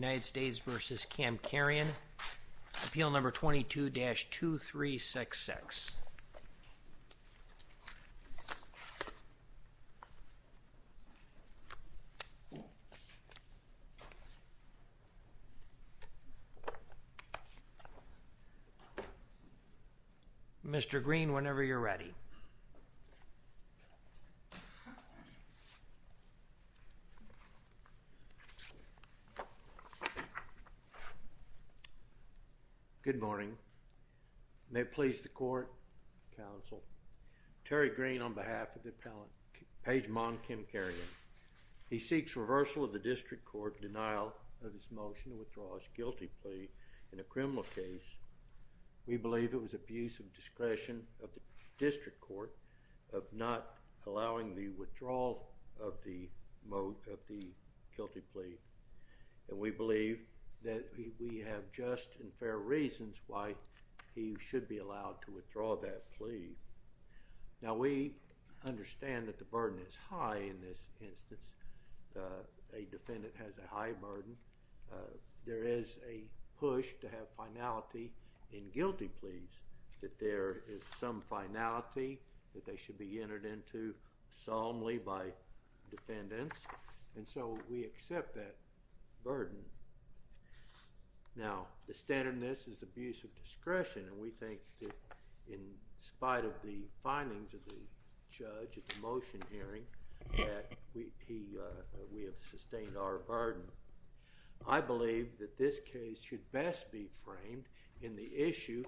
United States v. Kamkarian Appeal No. 22-2366 Mr. Green, whenever you're ready. Good morning. May it please the court, counsel. Terry Green on behalf of the Pejman Kamkarian. He seeks reversal of the district court denial of his motion to withdraw his guilty plea in a criminal case. We believe it was abuse of discretion of the district court of not allowing the withdrawal of the guilty plea. And we believe that we have just and fair reasons why he should be allowed to withdraw that plea. Now, we understand that the burden is high in this instance. A defendant has a high burden. There is a push to have finality in guilty pleas, that there is some finality that they should be entered into solemnly by defendants. And so, we accept that burden. Now, the standard in this is abuse of discretion and we think that in spite of the findings of the judge at the motion hearing, that we have sustained our burden. I believe that this case should best be framed in the issue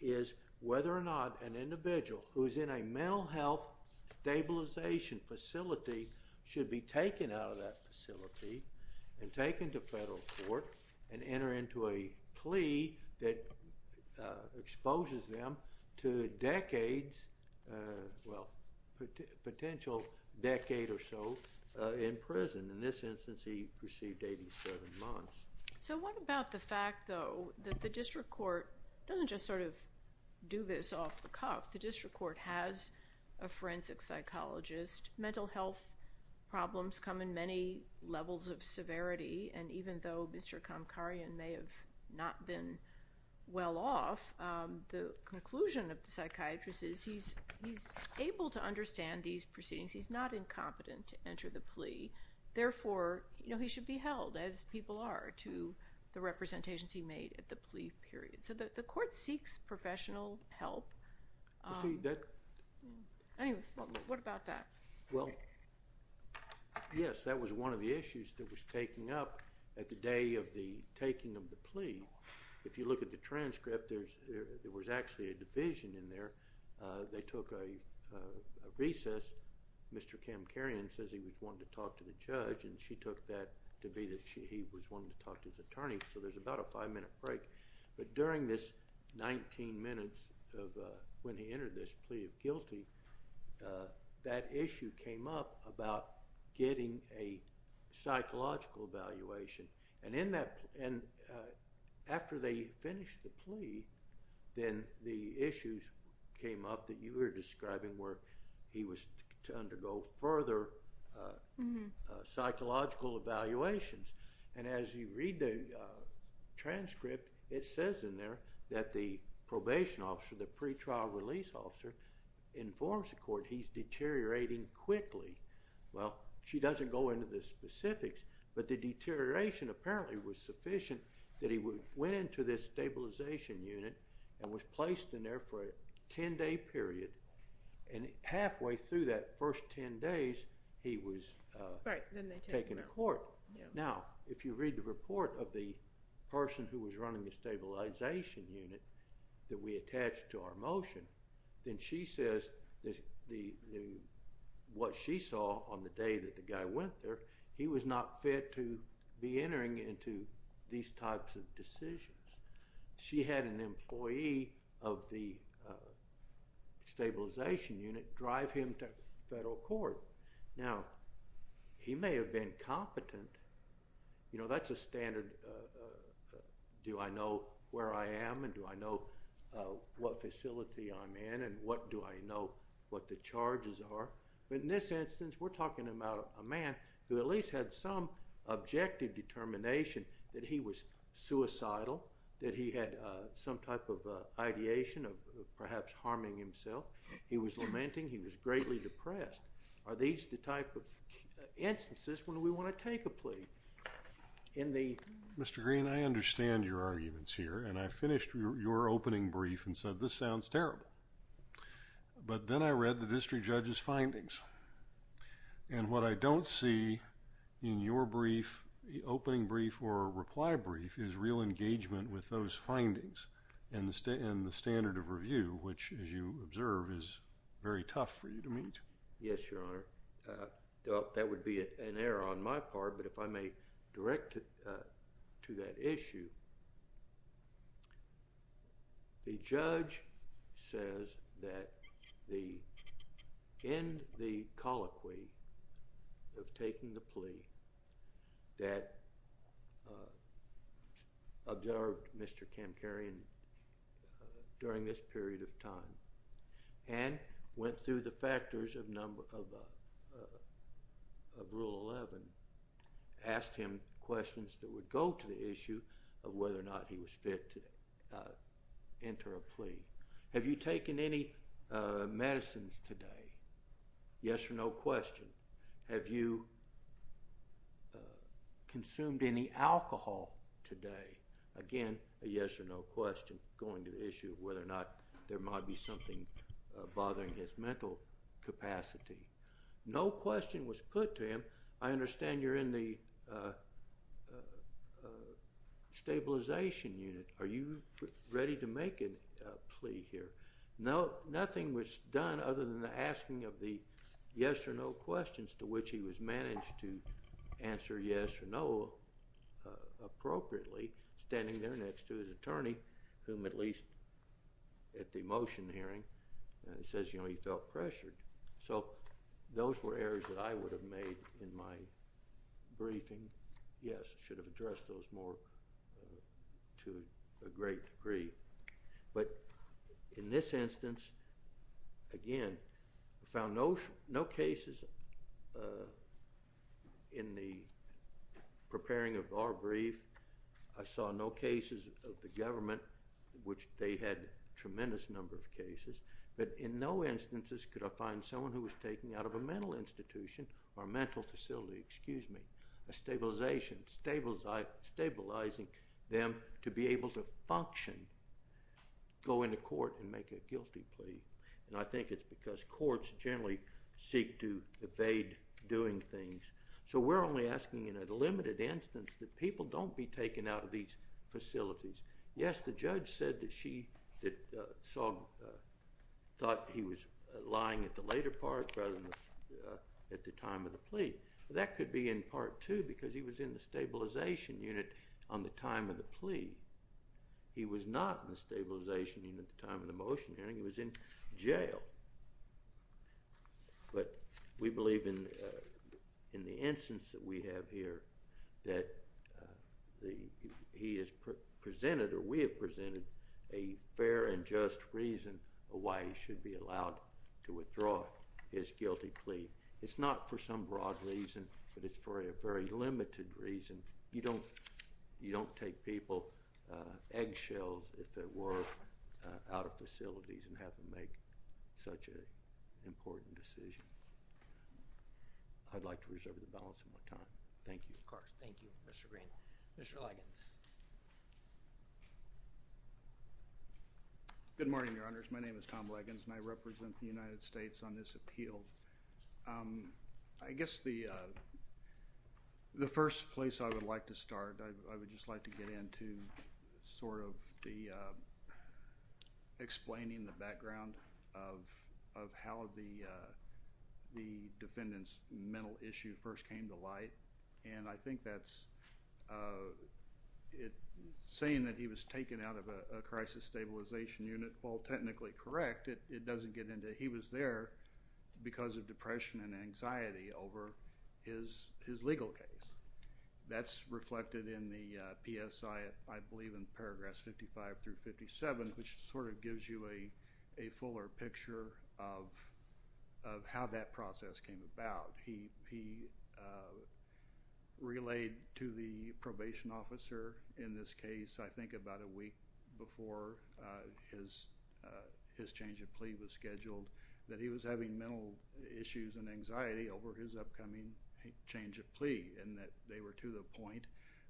is whether or not an individual who is in a mental health stabilization facility should be taken out of that facility and taken to federal court and enter into a plea that exposes them to decades, well, potential decade or so in prison. In this instance, he received 87 months. So, what about the fact, though, that the district court doesn't just sort of do this off the cuff. The district court has a forensic psychologist. Mental health problems come in many levels of severity and even though Mr. Kamkarian may have not been well off, the conclusion of the psychiatrist is he's able to understand these proceedings. He's not incompetent to enter the plea. Therefore, he should be held as people are to the representations he made at the plea period. So, the court seeks professional help. Anyway, what about that? Well, yes, that was one of the issues that was taken up at the day of the taking of the plea. If you look at the transcript, there was actually a division in there. They took a recess. Mr. Kamkarian says he was wanting to talk to the judge and she took that to be that he was wanting to talk to his attorney. So, there's about a five-minute break. But during this 19 minutes of when he entered this plea of guilty, that issue came up about getting a psychological evaluation. And after they finished the plea, then the issues came up that you were describing where he was to undergo further psychological evaluations. And as you read the transcript, it says in there that the probation officer, the pre-trial release officer, informs the court he's deteriorating quickly. Well, she doesn't go into the specifics, but the deterioration apparently was sufficient that he went into this stabilization unit and was placed in there for a 10-day period. And halfway through that first 10 days, he was taken to court. Now, if you read the report of the person who was running the stabilization unit that we attached to our motion, then she says what she saw on the day that the guy went there, he was not fit to be entering into these types of decisions. She had an employee of the stabilization unit drive him to federal court. Now, he may have been competent. You know, that's a standard do I know where I am and do I know what facility I'm in and what do I know what the charges are. But in this instance, we're talking about a man who at least had some objective determination that he was suicidal, that he had some type of ideation of perhaps harming himself. He was lamenting. He was greatly depressed. Are these the type of instances when we want to take a plea? Mr. Green, I understand your arguments here and I finished your opening brief and said this sounds terrible. But then I read the district judge's findings. And what I don't see in your brief, the opening brief or reply brief, is real engagement with those findings and the standard of review, which as you observe is very tough for you to meet. Yes, Your Honor. That would be an error on my part. But if I may direct to that issue, the judge says that in the colloquy of taking the plea that observed Mr. Kamkarian during this period of time and went through the factors of Rule 11, asked him questions that would go to the issue of whether or not he was fit to enter a plea. Have you taken any medicines today? Yes or no question. Have you consumed any alcohol today? Again, a yes or no question going to the issue of whether or not there might be something bothering his mental capacity. No question was put to him. I understand you're in the stabilization unit. Are you ready to make a plea here? Nothing was done other than the asking of the yes or no questions to which he was managed to answer yes or no appropriately, standing there next to his attorney, whom at least at the motion hearing says he felt pressured. So those were errors that I would have made in my briefing. Yes, I should have addressed those more to a great degree. But in this instance, again, I found no cases in the preparing of our brief. I saw no cases of the government, which they had a tremendous number of cases. But in no instances could I find someone who was taken out of a mental institution or mental facility, a stabilization, stabilizing them to be able to function, go into court and make a guilty plea. And I think it's because courts generally seek to evade doing things. So we're only asking in a limited instance that people don't be taken out of these facilities. Yes, the judge said that she saw, thought he was lying at the later part rather than at the time of the plea. That could be in part two because he was in the stabilization unit on the time of the plea. He was not in the stabilization unit at the time of the motion hearing. He was in jail. But we believe in the instance that we have here that he has presented or we have presented a fair and just reason why he should be allowed to withdraw his guilty plea. It's not for some broad reason, but it's for a very limited reason. You don't take people, eggshells if it were, out of facilities and have them make such an important decision. I'd like to reserve the balance of my time. Thank you. Of course. Thank you, Mr. Green. Mr. Liggins. Good morning, Your Honors. My name is Tom Liggins and I represent the United States on this appeal. I guess the first place I would like to start, I would just like to get into sort of the explaining the background of how the defendant's mental issue first came to light. And I think saying that he was taken out of a crisis stabilization unit, while technically correct, it doesn't get into he was there because of depression and anxiety over his legal case. That's reflected in the PSI, I believe in paragraphs 55 through 57, which sort of gives you a fuller picture of how that process came about. He relayed to the probation officer in this case, I think about a week before his change of plea was scheduled, that he was having mental issues and anxiety over his upcoming change of plea and that they were to the point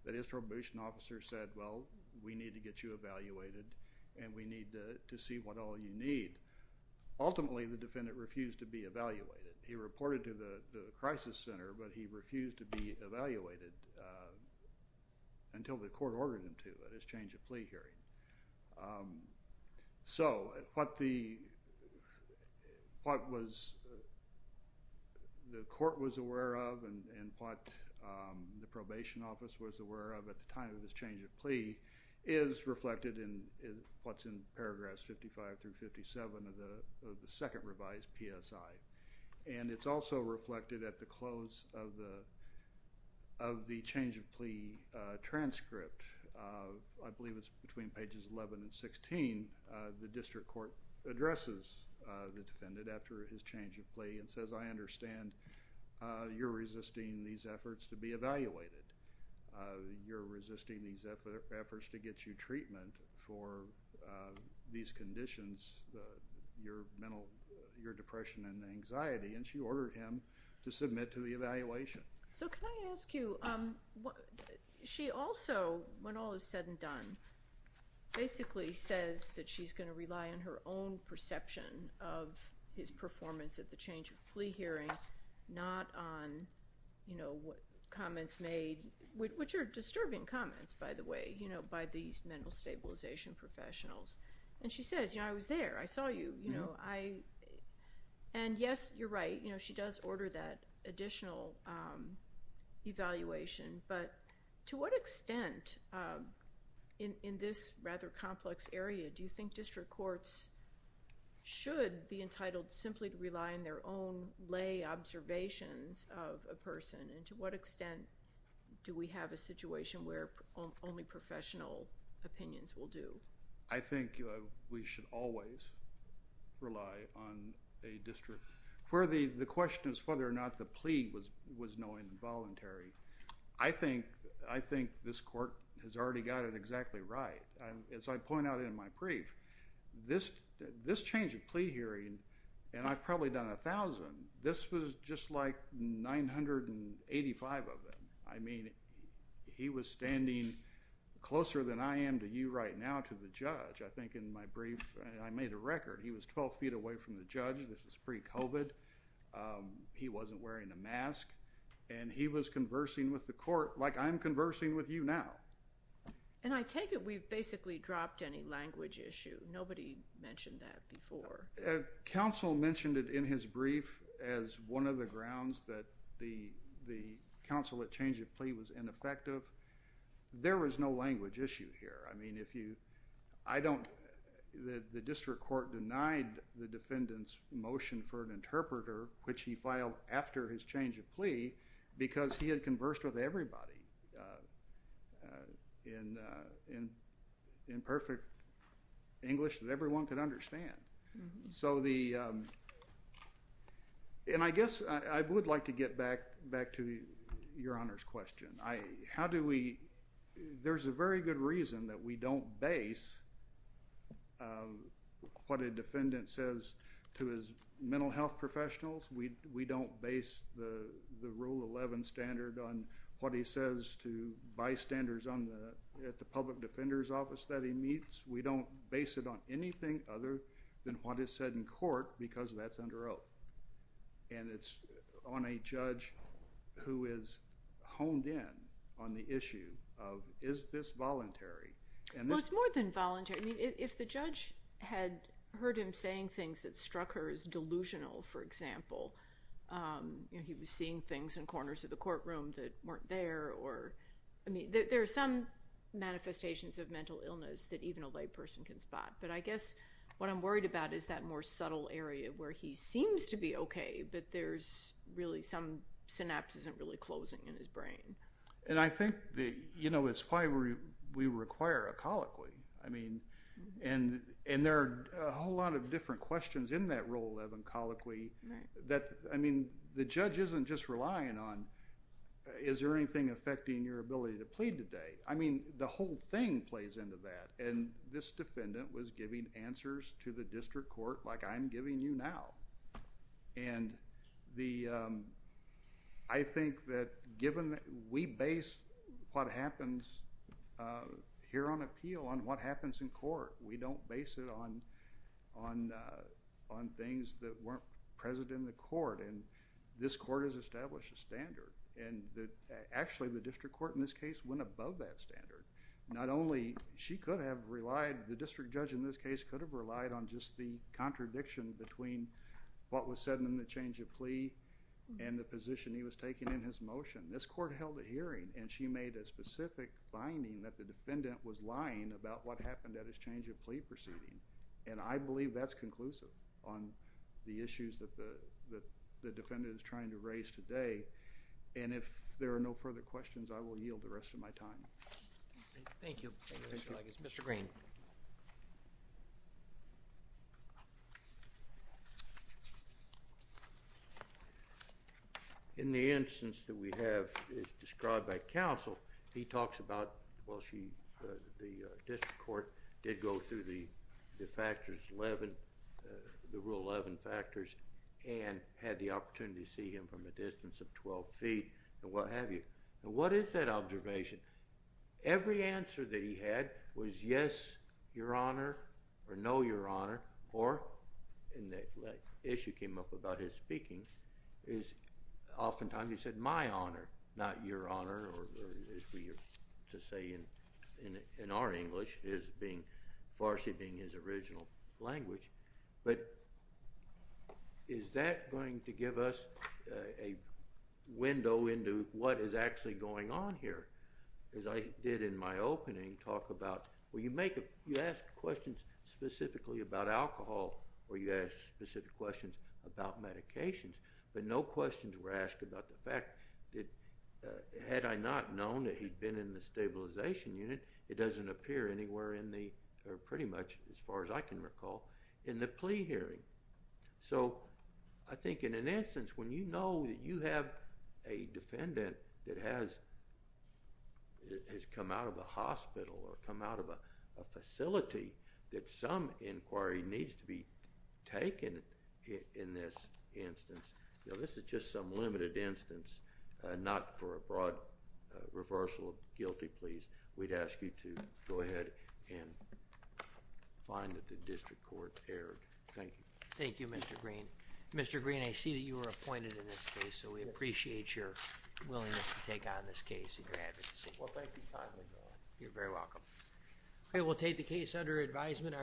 that his probation officer said, well, we need to get you evaluated and we need to see what all you need. Ultimately, the defendant refused to be evaluated. He reported to the crisis center, but he refused to be evaluated until the court ordered him to at his change of plea hearing. So, what the court was aware of and what the probation office was aware of at the time of his change of plea is reflected in what's in paragraphs 55 through 57 of the second revised PSI. And it's also reflected at the close of the change of plea transcript. I believe it's between pages 11 and 16. The district court addresses the defendant after his change of plea and says, I understand you're resisting these efforts to be evaluated. You're resisting these efforts to get you treatment for these conditions, your mental, your depression and anxiety, and she ordered him to submit to the evaluation. So, can I ask you, she also, when all is said and done, basically says that she's going to rely on her own perception of his performance at the change of plea hearing, not on, you know, what comments made, which are disturbing comments, by the way, by these mental stabilization professionals. And she says, you know, I was there. I saw you. And yes, you're right. She does order that additional evaluation, but to what extent in this rather complex area do you think district courts should be entitled simply to rely on their own lay observations of a person, and to what extent do we have a situation where only professional opinions will do? I think we should always rely on a district, where the question is whether or not the plea was knowing and voluntary. I think this court has already got it exactly right. As I point out in my brief, this change of plea hearing, and I've probably done a thousand, this was just like 985 of them. I mean, he was standing closer than I am to you right now to the judge. I think in my brief, I made a record. He was 12 feet away from the judge. This was pre-COVID. He wasn't wearing a mask, and he was conversing with the court like I'm conversing with you now. And I take it we've basically dropped any language issue. Nobody mentioned that before. Counsel mentioned it in his brief as one of the grounds that the counsel at change of plea was ineffective. There was no language issue here. I mean, the district court denied the defendant's motion for an interpreter, which he filed after his change of plea, because he had conversed with everybody in perfect English that everyone could understand. And I guess I would like to get back to your honor's question. There's a very good reason that we don't base what a defendant says to his mental health professionals. We don't base the rule 11 standard on what he says to bystanders at the public defender's office that he meets. We don't base it on anything other than what is said in court, because that's under oath. And it's on a judge who is honed in on the issue of is this voluntary. Well, it's more than voluntary. I mean, if the judge had heard him saying things that for example, you know, he was seeing things in corners of the courtroom that weren't there or, I mean, there are some manifestations of mental illness that even a lay person can spot. But I guess what I'm worried about is that more subtle area where he seems to be okay, but there's really some synapse isn't really closing in his brain. And I think that, you know, it's why we require a colloquy. I mean, and there are a whole lot of different questions in that rule 11 colloquy that, I mean, the judge isn't just relying on is there anything affecting your ability to plead today. I mean, the whole thing plays into that. And this defendant was giving answers to the district court like I'm giving you now. And I think that given that we base what in the court and this court has established a standard and that actually the district court in this case went above that standard. Not only she could have relied, the district judge in this case could have relied on just the contradiction between what was said in the change of plea and the position he was taking in his motion. This court held a hearing and she made a specific finding that the defendant was lying about what happened at his change of plea proceeding. And I believe that's conclusive on the issues that the defendant is trying to raise today. And if there are no further questions, I will yield the rest of my time. Thank you. Mr. Green. In the instance that we have is described by counsel, he talks about, well, she, the district court did go through the factors, the rule 11 factors, and had the opportunity to see him from a distance of 12 feet and what have you. And what is that observation? Every answer that he had was yes, your honor, or no, your honor, or, and the issue came up about his speaking, is oftentimes he said my honor, not your honor, or as we used to say in our English, Farsi being his original language. But is that going to give us a window into what is actually going on here? As I did in my opening talk about, well, you ask questions specifically about alcohol or you ask specific questions about medications, but no questions were asked about the fact that had I not known that he'd been in the stabilization unit, it doesn't appear anywhere in the, or pretty much as far as I can recall, in the plea hearing. So, I think in an instance, when you know that you have a defendant that has come out of a hospital or come out of a facility, that some inquiry needs to be taken in this instance. Now, this is just some limited instance, not for a broad reversal of guilty pleas. We'd ask you to go ahead and find that the district court erred. Thank you. Thank you, Mr. Green. Mr. Green, I see that you were appointed in this case, so we appreciate your willingness to take on this case and your advocacy. Well, thank you You're very welcome. Okay, we'll take the case under advisement.